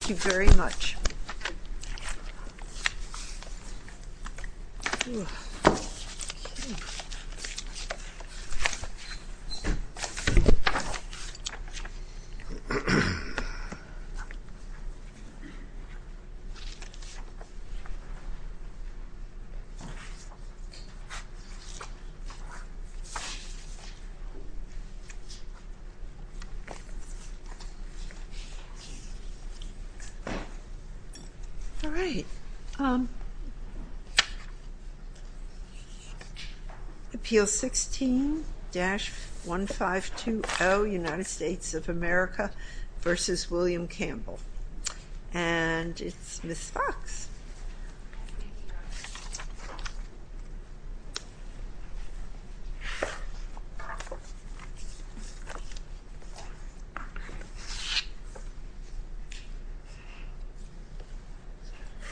Thank you very much. All right. Appeal 16-1520, United States of America v. William Campbell. And it's Ms. Fox.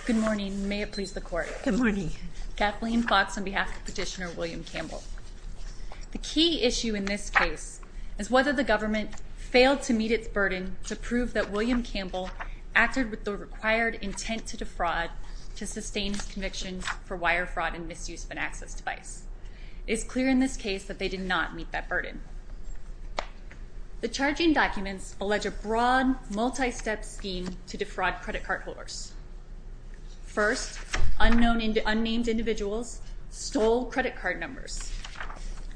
Good morning. May it please the Court. Good morning. Kathleen Fox on behalf of Petitioner William Campbell. The key issue in this case is whether the government failed to meet its burden to prove that William Campbell acted with the required intent to defraud to sustain his convictions for wire fraud and misuse of an access device. It is clear in this case that they did not meet that burden. The charging documents allege a broad, multi-step scheme to defraud credit card holders. First, unnamed individuals stole credit card numbers.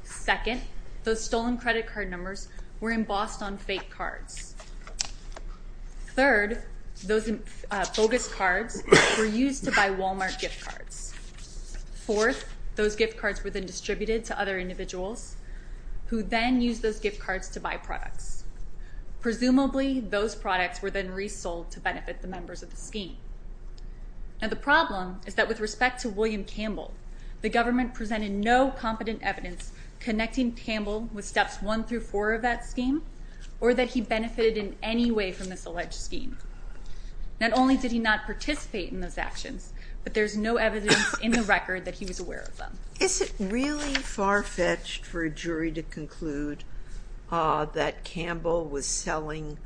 Second, those stolen credit card numbers were embossed on fake cards. Third, those bogus cards were used to buy Walmart gift cards. Fourth, those gift cards were then distributed to other individuals who then used those gift cards to buy products. Presumably, those products were then resold to benefit the members of the scheme. Now, the problem is that with respect to William Campbell, the government presented no competent evidence connecting Campbell with steps one through four of that scheme or that he benefited in any way from this alleged scheme. Not only did he not participate in those actions, but there's no evidence in the record that he was aware of them. Is it really far-fetched for a jury to conclude that Campbell was selling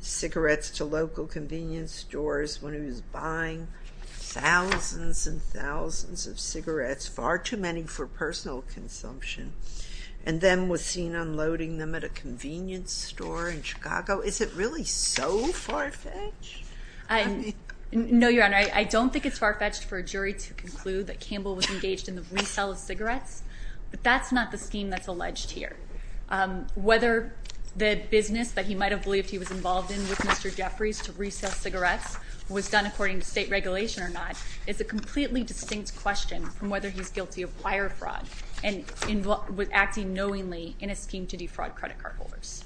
cigarettes to local convenience stores when he was buying thousands and thousands of cigarettes, far too many for personal consumption, and then was seen unloading them at a convenience store in Chicago? Is it really so far-fetched? No, Your Honor, I don't think it's far-fetched for a jury to conclude that Campbell was engaged in the resale of cigarettes, but that's not the scheme that's alleged here. Whether the business that he might have believed he was involved in with Mr. Jeffries to resale cigarettes was done according to state regulation or not is a completely distinct question from whether he's guilty of wire fraud and was acting knowingly in a scheme to defraud credit card holders.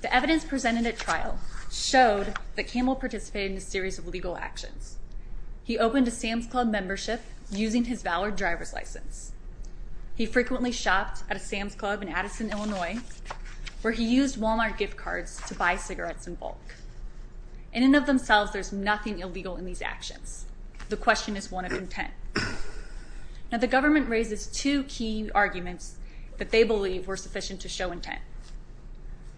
The evidence presented at trial showed that Campbell participated in a series of legal actions. He opened a Sam's Club membership using his Valor driver's license. He frequently shopped at a Sam's Club in Addison, Illinois, where he used Walmart gift cards to buy cigarettes in bulk. In and of themselves, there's nothing illegal in these actions. The question is one of intent. Now, the government raises two key arguments that they believe were sufficient to show intent.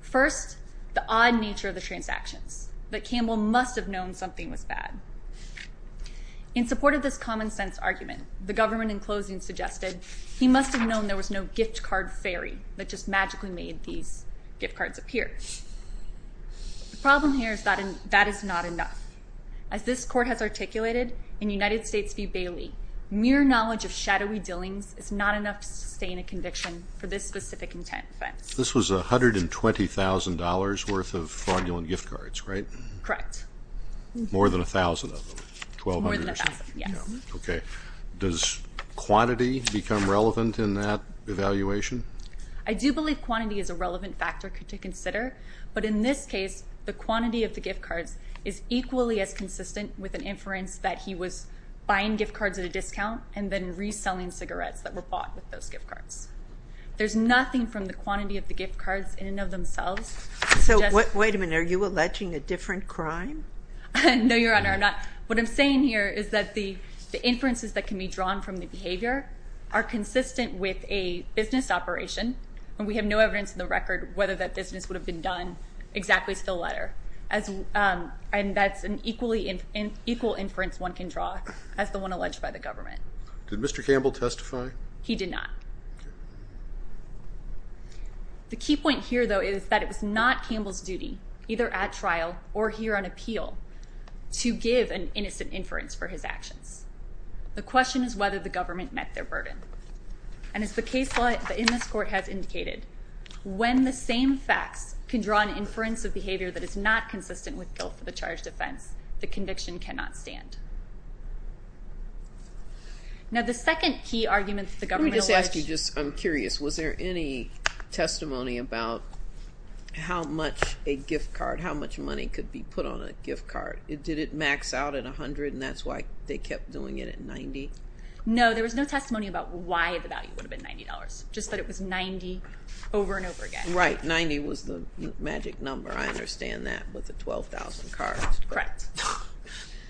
First, the odd nature of the transactions that Campbell must have known something was bad. In support of this common sense argument, the government, in closing, suggested he must have known there was no gift card fairy that just magically made these gift cards appear. The problem here is that that is not enough. As this court has articulated in United States v. Bailey, mere knowledge of shadowy dealings is not enough to sustain a conviction for this specific intent offense. This was $120,000 worth of fraudulent gift cards, right? Correct. More than 1,000 of them? More than 1,000, yes. Okay. Does quantity become relevant in that evaluation? I do believe quantity is a relevant factor to consider, but in this case, the quantity of the gift cards is equally as consistent with an inference that he was buying gift cards at a discount and then reselling cigarettes that were bought with those gift cards. There's nothing from the quantity of the gift cards in and of themselves. Wait a minute. Are you alleging a different crime? No, Your Honor, I'm not. What I'm saying here is that the inferences that can be drawn from the behavior are consistent with a business operation, and we have no evidence in the record whether that business would have been done exactly to the letter. And that's an equal inference one can draw as the one alleged by the government. Did Mr. Campbell testify? He did not. The key point here, though, is that it was not Campbell's duty, either at trial or here on appeal, to give an innocent inference for his actions. The question is whether the government met their burden. And as the case law in this court has indicated, when the same facts can draw an inference of behavior that is not consistent with guilt for the charged offense, the conviction cannot stand. Now, the second key argument that the government alleged— Let me just ask you, just I'm curious, was there any testimony about how much a gift card, how much money could be put on a gift card? Did it max out at $100, and that's why they kept doing it at $90? No, there was no testimony about why the value would have been $90, just that it was $90 over and over again. Right, $90 was the magic number. I understand that with the 12,000 cards. Correct.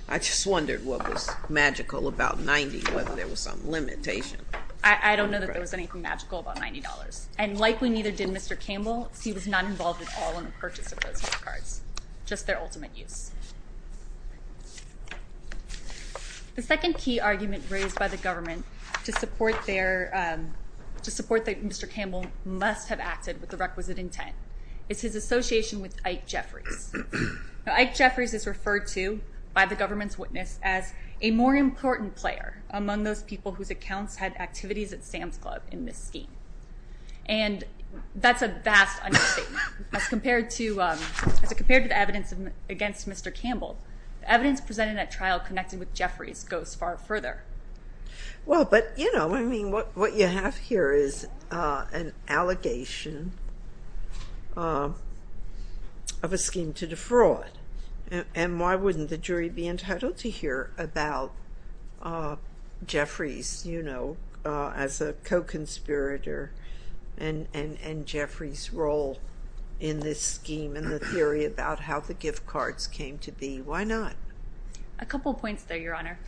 I just wondered what was magical about $90, whether there was some limitation. I don't know that there was anything magical about $90, and likely neither did Mr. Campbell, because he was not involved at all in the purchase of those gift cards, just their ultimate use. The second key argument raised by the government to support that Mr. Campbell must have acted with the requisite intent is his association with Ike Jeffries. Ike Jeffries is referred to by the government's witness as a more important player among those people whose accounts had activities at Sam's Club in this scheme, and that's a vast understatement. As compared to the evidence against Mr. Campbell, the evidence presented at trial connected with Jeffries goes far further. Well, but, you know, I mean, what you have here is an allegation of a scheme to defraud, and why wouldn't the jury be entitled to hear about Jeffries, you know, as a co-conspirator and Jeffries' role in this scheme and the theory about how the gift cards came to be? Why not? A couple of points there, Your Honor.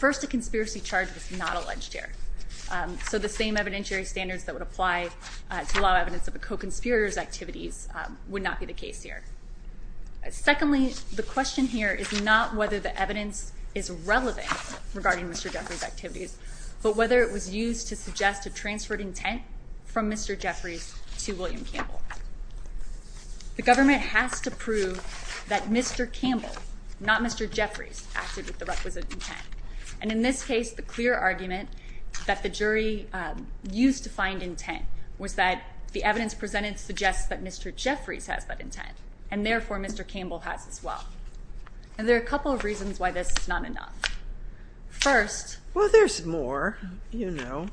First, a conspiracy charge was not alleged here, so the same evidentiary standards that would apply to law evidence of a co-conspirator's activities would not be the case here. Secondly, the question here is not whether the evidence is relevant regarding Mr. Jeffries' activities, but whether it was used to suggest a transferred intent from Mr. Jeffries to William Campbell. The government has to prove that Mr. Campbell, not Mr. Jeffries, acted with the requisite intent. And in this case, the clear argument that the jury used to find intent was that the evidence presented suggests that Mr. Jeffries has that intent, and therefore Mr. Campbell has as well. And there are a couple of reasons why this is not enough. First... Well, there's more, you know.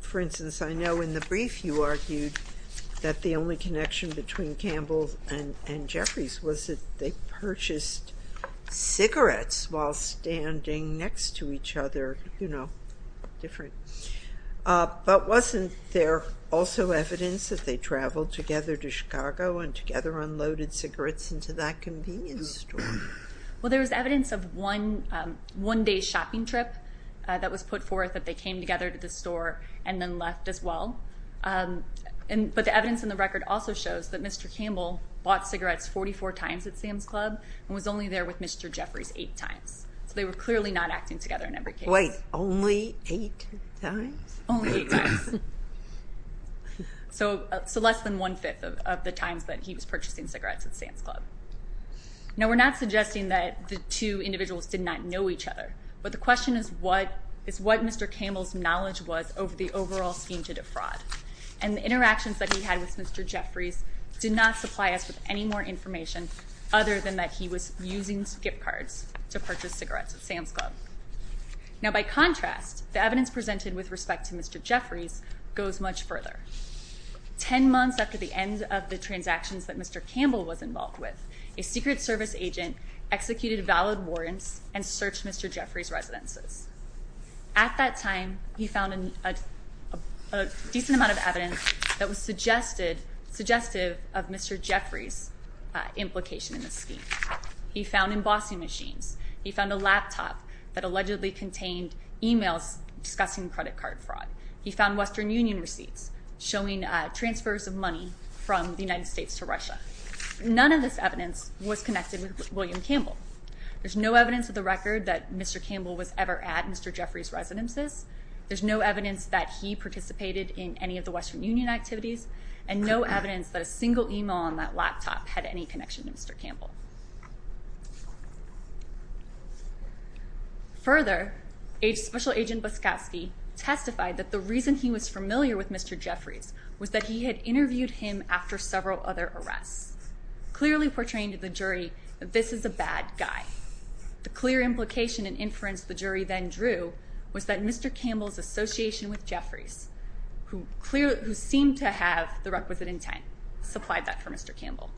For instance, I know in the brief you argued that the only connection between Campbell and Jeffries was that they purchased cigarettes while standing next to each other, you know, different. But wasn't there also evidence that they traveled together to Chicago and together unloaded cigarettes into that convenience store? Well, there was evidence of one day's shopping trip that was put forth that they came together to the store and then left as well. But the evidence in the record also shows that Mr. Campbell bought cigarettes 44 times at Sam's Club and was only there with Mr. Jeffries eight times. So they were clearly not acting together in every case. Wait, only eight times? Only eight times. So less than one-fifth of the times that he was purchasing cigarettes at Sam's Club. Now, we're not suggesting that the two individuals did not know each other, but the question is what Mr. Campbell's knowledge was over the overall scheme to defraud. And the interactions that he had with Mr. Jeffries did not supply us with any more information other than that he was using skip cards to purchase cigarettes at Sam's Club. Now, by contrast, the evidence presented with respect to Mr. Jeffries goes much further. Ten months after the end of the transactions that Mr. Campbell was involved with, a Secret Service agent executed valid warrants and searched Mr. Jeffries' residences. At that time, he found a decent amount of evidence that was suggestive of Mr. Jeffries' implication in the scheme. He found embossing machines. He found a laptop that allegedly contained emails discussing credit card fraud. He found Western Union receipts showing transfers of money from the United States to Russia. None of this evidence was connected with William Campbell. There's no evidence of the record that Mr. Campbell was ever at Mr. Jeffries' residences. There's no evidence that he participated in any of the Western Union activities, and no evidence that a single email on that laptop had any connection to Mr. Campbell. Further, Special Agent Boskoski testified that the reason he was familiar with Mr. Jeffries was that he had interviewed him after several other arrests, clearly portraying to the jury that this is a bad guy. The clear implication and inference the jury then drew was that Mr. Campbell's association with Jeffries, who seemed to have the requisite intent, supplied that for Mr. Campbell.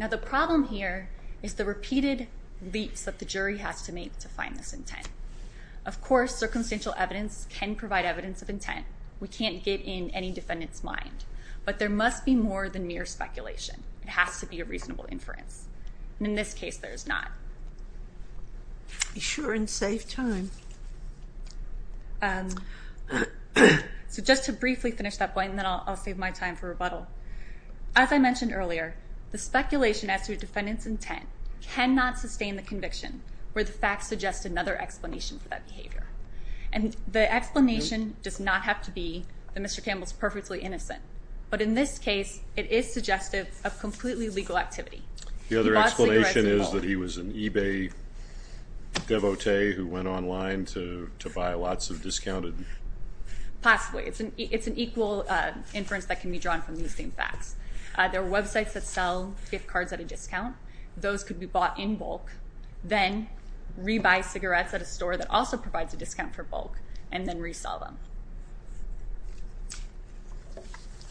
Now the problem here is the repeated leaps that the jury has to make to find this intent. Of course, circumstantial evidence can provide evidence of intent. We can't get in any defendant's mind. But there must be more than mere speculation. It has to be a reasonable inference. And in this case, there is not. Be sure and save time. So just to briefly finish that point, and then I'll save my time for rebuttal. As I mentioned earlier, the speculation as to a defendant's intent cannot sustain the conviction where the facts suggest another explanation for that behavior. And the explanation does not have to be that Mr. Campbell is perfectly innocent. But in this case, it is suggestive of completely legal activity. The other explanation is that he was an eBay devotee who went online to buy lots of discounted? Possibly. It's an equal inference that can be drawn from these same facts. There are websites that sell gift cards at a discount. Those could be bought in bulk, then re-buy cigarettes at a store that also provides a discount for bulk, and then re-sell them.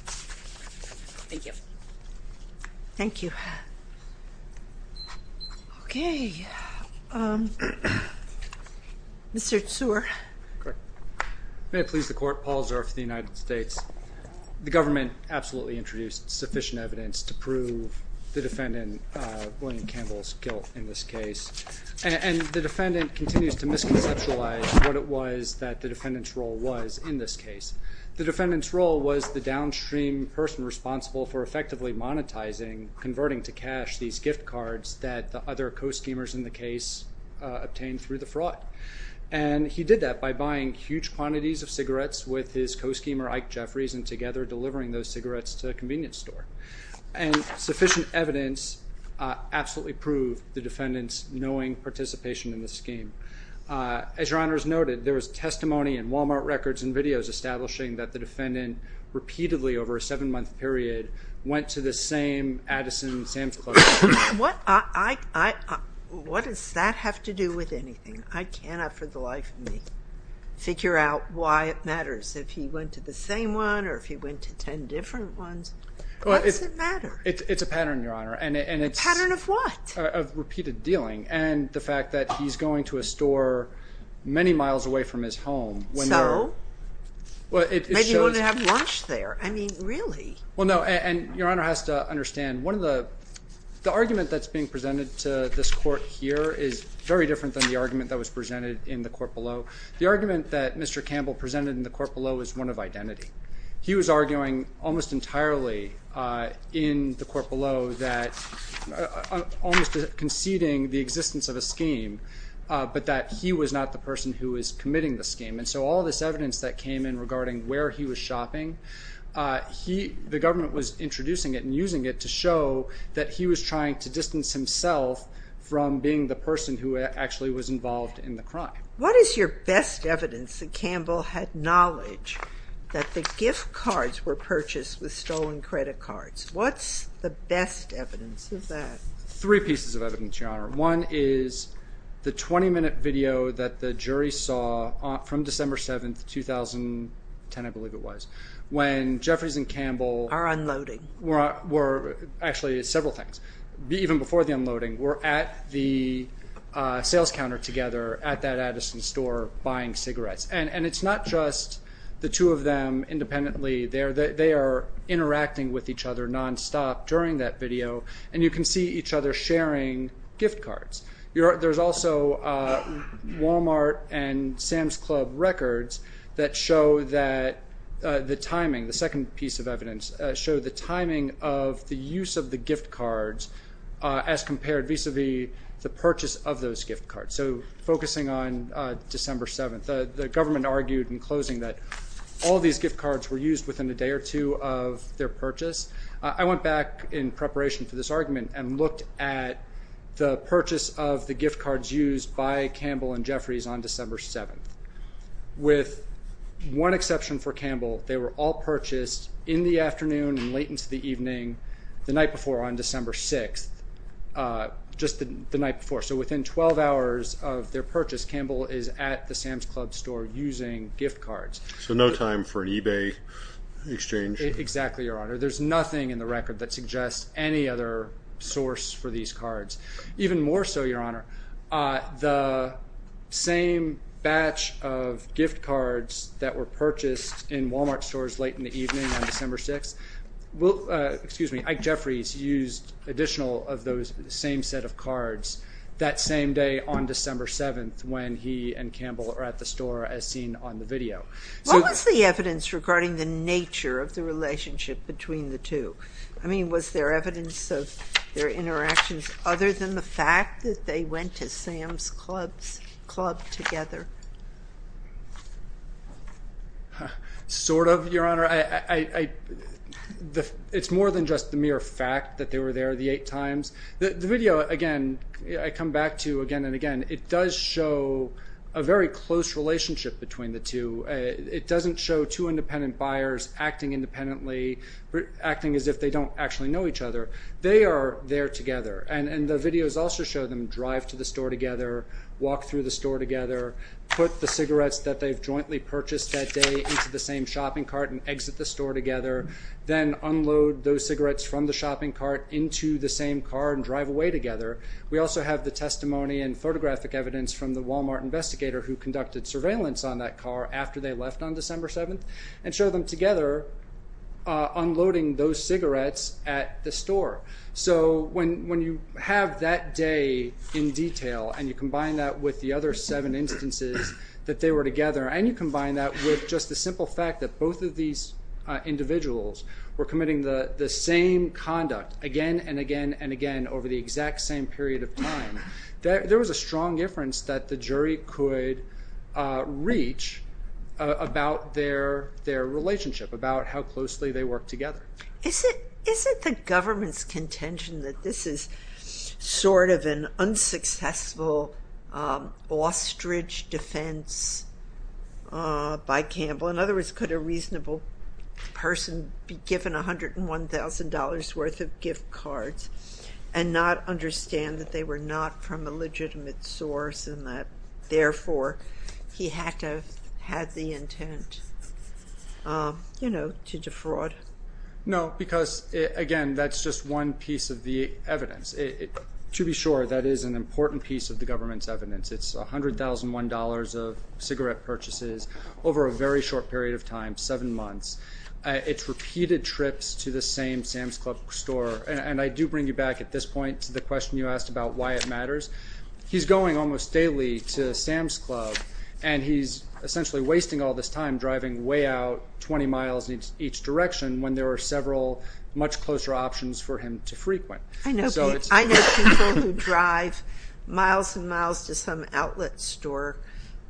Thank you. Thank you. Okay. Mr. Zuer. May it please the Court, Paul Zuer for the United States. The government absolutely introduced sufficient evidence to prove the defendant, William Campbell's guilt in this case. And the defendant continues to misconceptualize what it was that the defendant's role was in this case. The defendant's role was the downstream person responsible for effectively monetizing, converting to cash these gift cards that the other co-schemers in the case obtained through the fraud. And he did that by buying huge quantities of cigarettes with his co-schemer, Ike Jeffries, and together delivering those cigarettes to a convenience store. And sufficient evidence absolutely proved the defendant's knowing participation in the scheme. As Your Honor has noted, there was testimony in Wal-Mart records and videos establishing that the defendant repeatedly over a seven-month period went to the same Addison Sam's Club. What does that have to do with anything? I cannot for the life of me figure out why it matters if he went to the same one or if he went to ten different ones. What does it matter? It's a pattern, Your Honor. A pattern of what? Of repeated dealing and the fact that he's going to a store many miles away from his home. So? Maybe he wouldn't have lunch there. I mean, really? Well, no. And Your Honor has to understand, the argument that's being presented to this court here is very different than the argument that was presented in the court below. The argument that Mr. Campbell presented in the court below is one of identity. He was arguing almost entirely in the court below that almost conceding the existence of a scheme, but that he was not the person who was committing the scheme. And so all this evidence that came in regarding where he was shopping, the government was introducing it and using it to show that he was trying to distance himself from being the person who actually was involved in the crime. What is your best evidence that Campbell had knowledge that the gift cards were purchased with stolen credit cards? What's the best evidence of that? Three pieces of evidence, Your Honor. One is the 20-minute video that the jury saw from December 7, 2010, I believe it was, when Jeffries and Campbell— Are unloading. Were—actually, several things. Even before the unloading, were at the sales counter together at that Addison store buying cigarettes. And it's not just the two of them independently. They are interacting with each other nonstop during that video, and you can see each other sharing gift cards. There's also Walmart and Sam's Club records that show that the timing, the second piece of evidence showed the timing of the use of the gift cards as compared vis-à-vis the purchase of those gift cards. So focusing on December 7, the government argued in closing that all these gift cards were used within a day or two of their purchase. I went back in preparation for this argument and looked at the purchase of the gift cards used by Campbell and Jeffries on December 7. With one exception for Campbell, they were all purchased in the afternoon and late into the evening the night before on December 6, just the night before. So within 12 hours of their purchase, Campbell is at the Sam's Club store using gift cards. So no time for an eBay exchange. Exactly, Your Honor. There's nothing in the record that suggests any other source for these cards. Even more so, Your Honor, the same batch of gift cards that were purchased in Walmart stores late in the evening on December 6, Ike Jeffries used additional of those same set of cards that same day on December 7 when he and Campbell are at the store as seen on the video. What was the evidence regarding the nature of the relationship between the two? I mean, was there evidence of their interactions other than the fact that they went to Sam's Club together? Sort of, Your Honor. It's more than just the mere fact that they were there the eight times. The video, again, I come back to again and again. It does show a very close relationship between the two. It doesn't show two independent buyers acting independently, acting as if they don't actually know each other. They are there together. And the videos also show them drive to the store together, walk through the store together, put the cigarettes that they've jointly purchased that day into the same shopping cart and exit the store together, then unload those cigarettes from the shopping cart into the same car and drive away together. We also have the testimony and photographic evidence from the Walmart investigator who conducted surveillance on that car after they left on December 7 and show them together unloading those cigarettes at the store. So when you have that day in detail and you combine that with the other seven instances that they were together and you combine that with just the simple fact that both of these individuals were committing the same conduct again and again and again over the exact same period of time, there was a strong difference that the jury could reach about their relationship, about how closely they worked together. Is it the government's contention that this is sort of an unsuccessful ostrich defense by Campbell? In other words, could a reasonable person be given $101,000 worth of gift cards and not understand that they were not from a legitimate source and that therefore he had to have had the intent, you know, to defraud? No, because again, that's just one piece of the evidence. To be sure, that is an important piece of the government's evidence. It's $101,000 of cigarette purchases over a very short period of time, seven months. It's repeated trips to the same Sam's Club store. And I do bring you back at this point to the question you asked about why it matters. He's going almost daily to Sam's Club, and he's essentially wasting all this time driving way out 20 miles in each direction I know people who drive miles and miles to some outlet store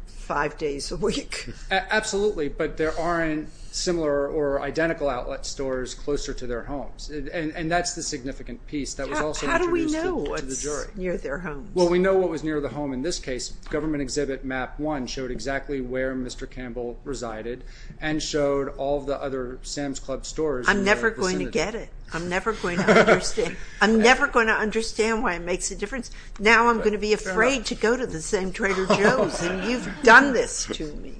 five days a week. Absolutely, but there aren't similar or identical outlet stores closer to their homes, and that's the significant piece that was also introduced to the jury. How do we know what's near their homes? Well, we know what was near the home in this case. Government exhibit map one showed exactly where Mr. Campbell resided and showed all the other Sam's Club stores in the vicinity. I'm never going to get it. I'm never going to understand. I'm never going to understand why it makes a difference. Now I'm going to be afraid to go to the same Trader Joe's, and you've done this to me.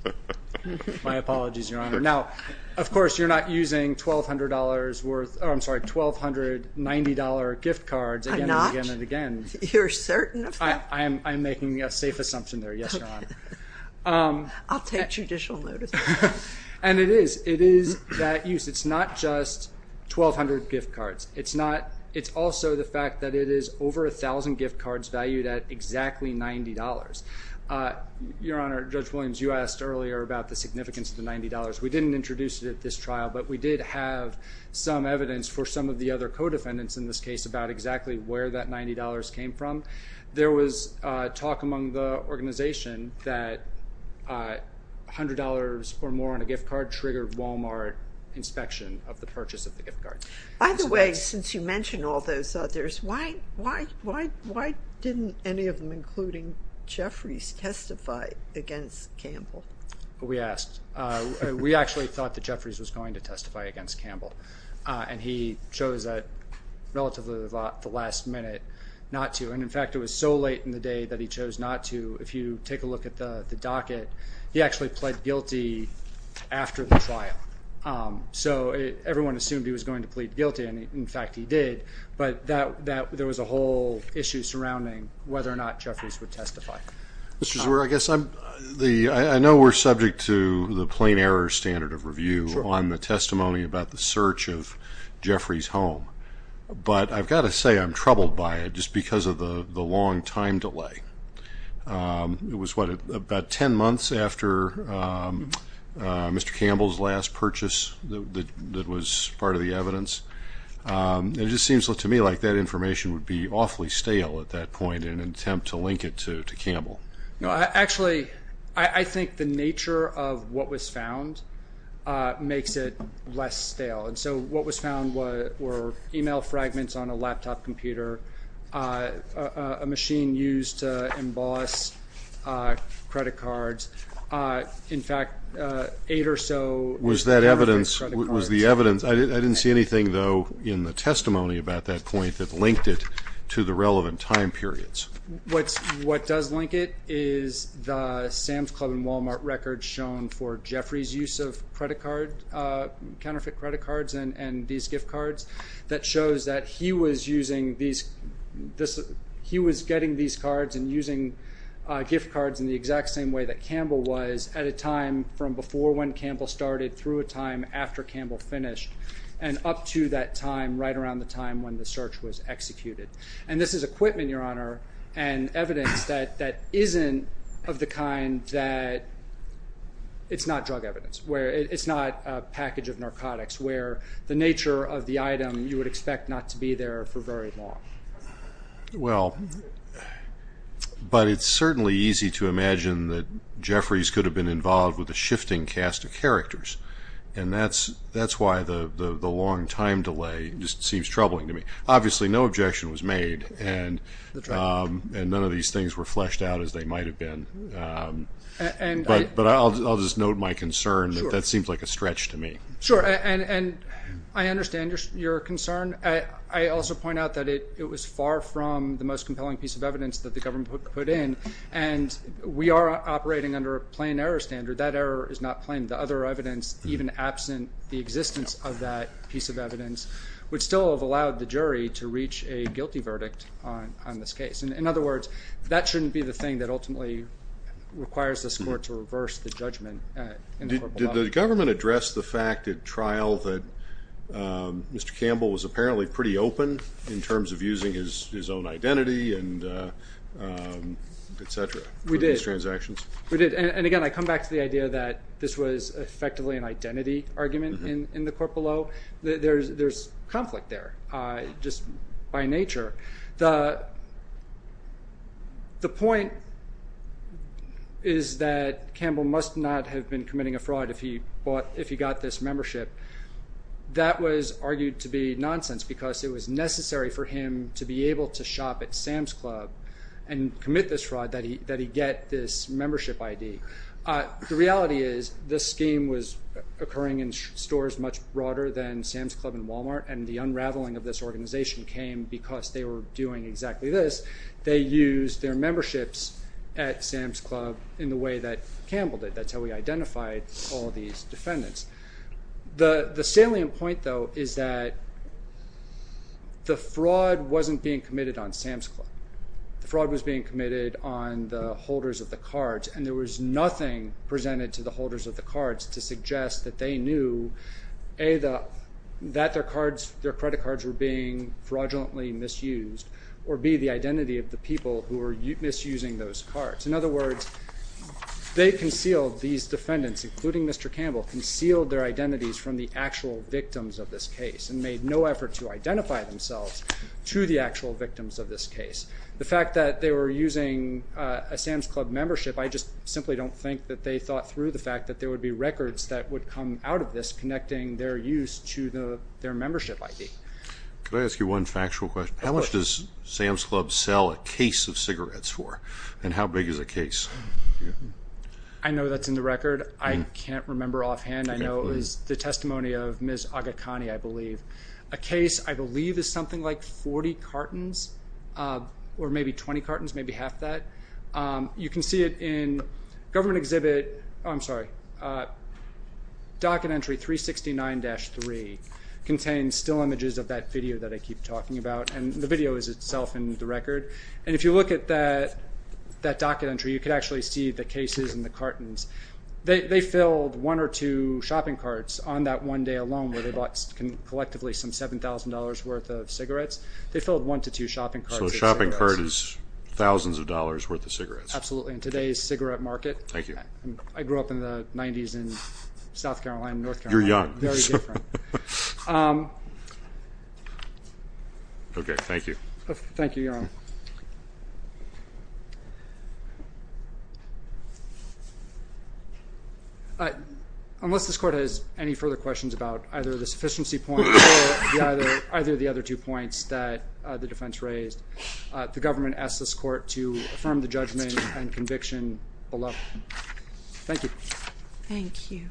My apologies, Your Honor. Now, of course, you're not using $1290 gift cards again and again and again. I'm not. You're certain of that? I'm making a safe assumption there, yes, Your Honor. I'll take judicial notice. And it is. It is that use. It's not just 1,200 gift cards. It's also the fact that it is over 1,000 gift cards valued at exactly $90. Your Honor, Judge Williams, you asked earlier about the significance of the $90. We didn't introduce it at this trial, but we did have some evidence for some of the other co-defendants in this case about exactly where that $90 came from. There was talk among the organization that $100 or more on a gift card triggered Walmart inspection of the purchase of the gift card. By the way, since you mentioned all those others, why didn't any of them, including Jeffries, testify against Campbell? We asked. We actually thought that Jeffries was going to testify against Campbell, and he chose at relatively the last minute not to. And, in fact, it was so late in the day that he chose not to. If you take a look at the docket, he actually pled guilty after the trial. So everyone assumed he was going to plead guilty, and, in fact, he did. But there was a whole issue surrounding whether or not Jeffries would testify. Mr. Zwer, I know we're subject to the plain error standard of review on the testimony about the search of Jeffries' home, but I've got to say I'm troubled by it just because of the long time delay. It was, what, about 10 months after Mr. Campbell's last purchase that was part of the evidence? It just seems to me like that information would be awfully stale at that point in an attempt to link it to Campbell. No, actually, I think the nature of what was found makes it less stale. And so what was found were email fragments on a laptop computer, a machine used to emboss credit cards. In fact, eight or so were counterfeit credit cards. Was that evidence? Was the evidence? I didn't see anything, though, in the testimony about that point that linked it to the relevant time periods. What does link it is the Sam's Club and Walmart record shown for Jeffries' use of credit cards, counterfeit credit cards and these gift cards, that shows that he was getting these cards and using gift cards in the exact same way that Campbell was at a time from before when Campbell started through a time after Campbell finished and up to that time right around the time when the search was executed. And this is equipment, Your Honor, and evidence that isn't of the kind that it's not drug evidence. It's not a package of narcotics where the nature of the item you would expect not to be there for very long. Well, but it's certainly easy to imagine that Jeffries could have been involved with a shifting cast of characters, and that's why the long time delay just seems troubling to me. Obviously, no objection was made, and none of these things were fleshed out as they might have been. But I'll just note my concern that that seems like a stretch to me. Sure, and I understand your concern. I also point out that it was far from the most compelling piece of evidence that the government put in, and we are operating under a plain error standard. That error is not plain. The other evidence, even absent the existence of that piece of evidence, would still have allowed the jury to reach a guilty verdict on this case. In other words, that shouldn't be the thing that ultimately requires this court to reverse the judgment. Did the government address the fact at trial that Mr. Campbell was apparently pretty open in terms of using his own identity and et cetera for these transactions? We did, and again, I come back to the idea that this was effectively an identity argument in the court below. There's conflict there just by nature. The point is that Campbell must not have been committing a fraud if he got this membership. That was argued to be nonsense because it was necessary for him to be able to shop at Sam's Club and commit this fraud that he get this membership ID. The reality is this scheme was occurring in stores much broader than Sam's Club and Walmart, and the unraveling of this organization came because they were doing exactly this. They used their memberships at Sam's Club in the way that Campbell did. That's how we identified all these defendants. The salient point, though, is that the fraud wasn't being committed on Sam's Club. The fraud was being committed on the holders of the cards, and there was nothing presented to the holders of the cards to suggest that they knew A, that their credit cards were being fraudulently misused, or B, the identity of the people who were misusing those cards. In other words, they concealed, these defendants, including Mr. Campbell, concealed their identities from the actual victims of this case and made no effort to identify themselves to the actual victims of this case. The fact that they were using a Sam's Club membership, I just simply don't think that they thought through the fact that there would be records that would come out of this connecting their use to their membership ID. Could I ask you one factual question? Of course. How much does Sam's Club sell a case of cigarettes for, and how big is a case? I know that's in the record. I can't remember offhand. I know it was the testimony of Ms. Agakani, I believe. A case, I believe, is something like 40 cartons or maybe 20 cartons, maybe half that. You can see it in government exhibit, I'm sorry, docket entry 369-3 contains still images of that video that I keep talking about, and the video is itself in the record. And if you look at that docket entry, you can actually see the cases and the cartons. They filled one or two shopping carts on that one day alone where they bought collectively some $7,000 worth of cigarettes. They filled one to two shopping carts of cigarettes. What I've heard is thousands of dollars worth of cigarettes. Absolutely. In today's cigarette market. Thank you. I grew up in the 90s in South Carolina and North Carolina. You're young. Very different. Okay, thank you. Thank you, Your Honor. Unless this Court has any further questions about either the sufficiency point or either of the other two points that the defense raised, the government asks this Court to affirm the judgment and conviction below. Thank you. Thank you.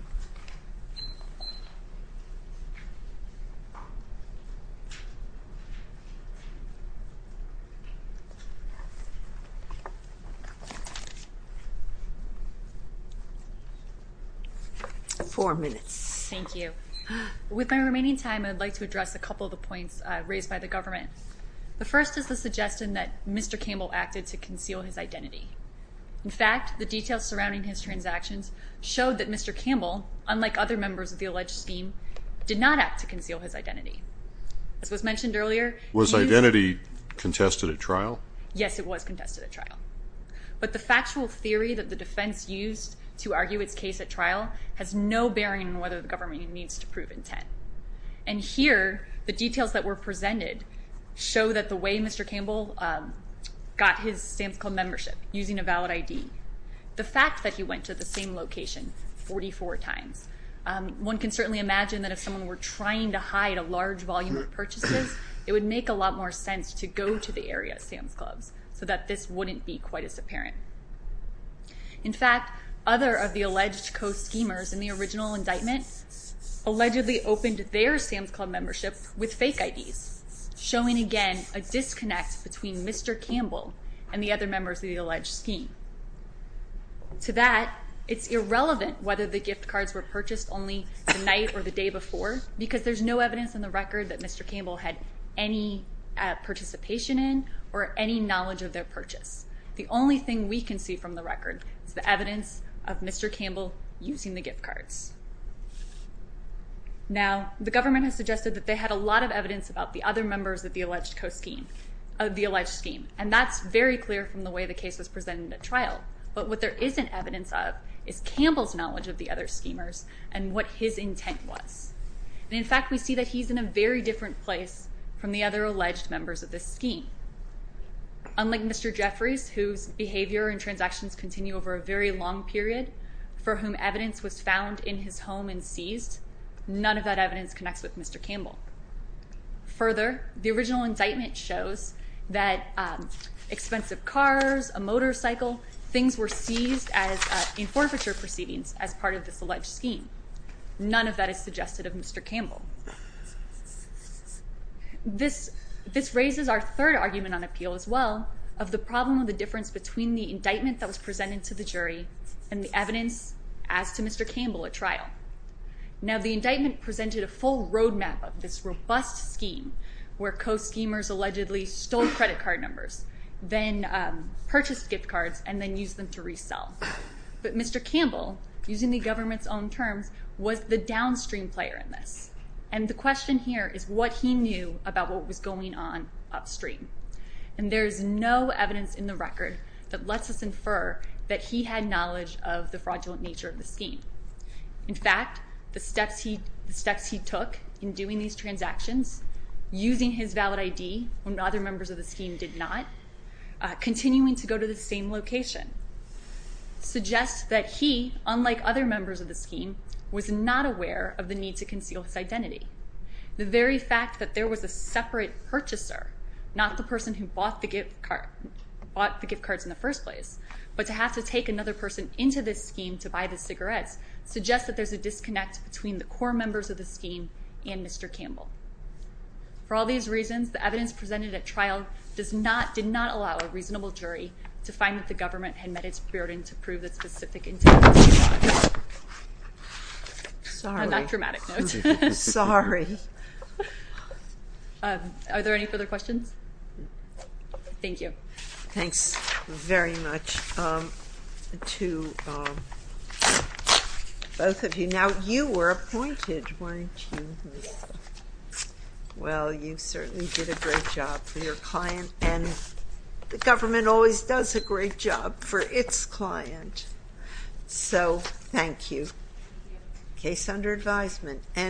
Four minutes. Thank you. With my remaining time, I'd like to address a couple of the points raised by the government. The first is the suggestion that Mr. Campbell acted to conceal his identity. In fact, the details surrounding his transactions showed that Mr. Campbell, unlike other members of the alleged scheme, did not act to conceal his identity. As was mentioned earlier, he was- Was identity contested at trial? Yes, it was contested at trial. But the factual theory that the defense used to argue its case at trial has no bearing on whether the government needs to prove intent. And here, the details that were presented show that the way Mr. Campbell got his Sam's Club membership, using a valid ID, the fact that he went to the same location 44 times, one can certainly imagine that if someone were trying to hide a large volume of purchases, it would make a lot more sense to go to the area at Sam's Clubs, so that this wouldn't be quite as apparent. In fact, other of the alleged co-schemers in the original indictment allegedly opened their Sam's Club membership with fake IDs, showing again a disconnect between Mr. Campbell and the other members of the alleged scheme. To that, it's irrelevant whether the gift cards were purchased only the night or the day before, because there's no evidence in the record that Mr. Campbell had any participation in or any knowledge of their purchase. The only thing we can see from the record is the evidence of Mr. Campbell using the gift cards. Now, the government has suggested that they had a lot of evidence about the other members of the alleged scheme, and that's very clear from the way the case was presented at trial. But what there isn't evidence of is Campbell's knowledge of the other schemers and what his intent was. And in fact, we see that he's in a very different place from the other alleged members of this scheme. Unlike Mr. Jeffries, whose behavior and transactions continue over a very long period, for whom evidence was found in his home and seized, none of that evidence connects with Mr. Campbell. Further, the original indictment shows that expensive cars, a motorcycle, things were seized in forfeiture proceedings as part of this alleged scheme. None of that is suggested of Mr. Campbell. This raises our third argument on appeal as well, of the problem of the difference between the indictment that was presented to the jury and the evidence as to Mr. Campbell at trial. Now, the indictment presented a full roadmap of this robust scheme where co-schemers allegedly stole credit card numbers, then purchased gift cards, and then used them to resell. But Mr. Campbell, using the government's own terms, was the downstream player in this. And the question here is what he knew about what was going on upstream. And there is no evidence in the record that lets us infer that he had knowledge of the fraudulent nature of the scheme. In fact, the steps he took in doing these transactions, using his valid ID when other members of the scheme did not, continuing to go to the same location, suggests that he, unlike other members of the scheme, was not aware of the need to conceal his identity. The very fact that there was a separate purchaser, not the person who bought the gift cards in the first place, but to have to take another person into this scheme to buy the cigarettes, suggests that there's a disconnect between the core members of the scheme and Mr. Campbell. For all these reasons, the evidence presented at trial did not allow a reasonable jury to find that the government had met its burden to prove the specific intent of this fraud. Sorry. On that dramatic note. Sorry. Are there any further questions? Thank you. Thanks very much to both of you. Now, you were appointed, weren't you? Well, you certainly did a great job for your client. And the government always does a great job for its client. So, thank you. Case under advisement.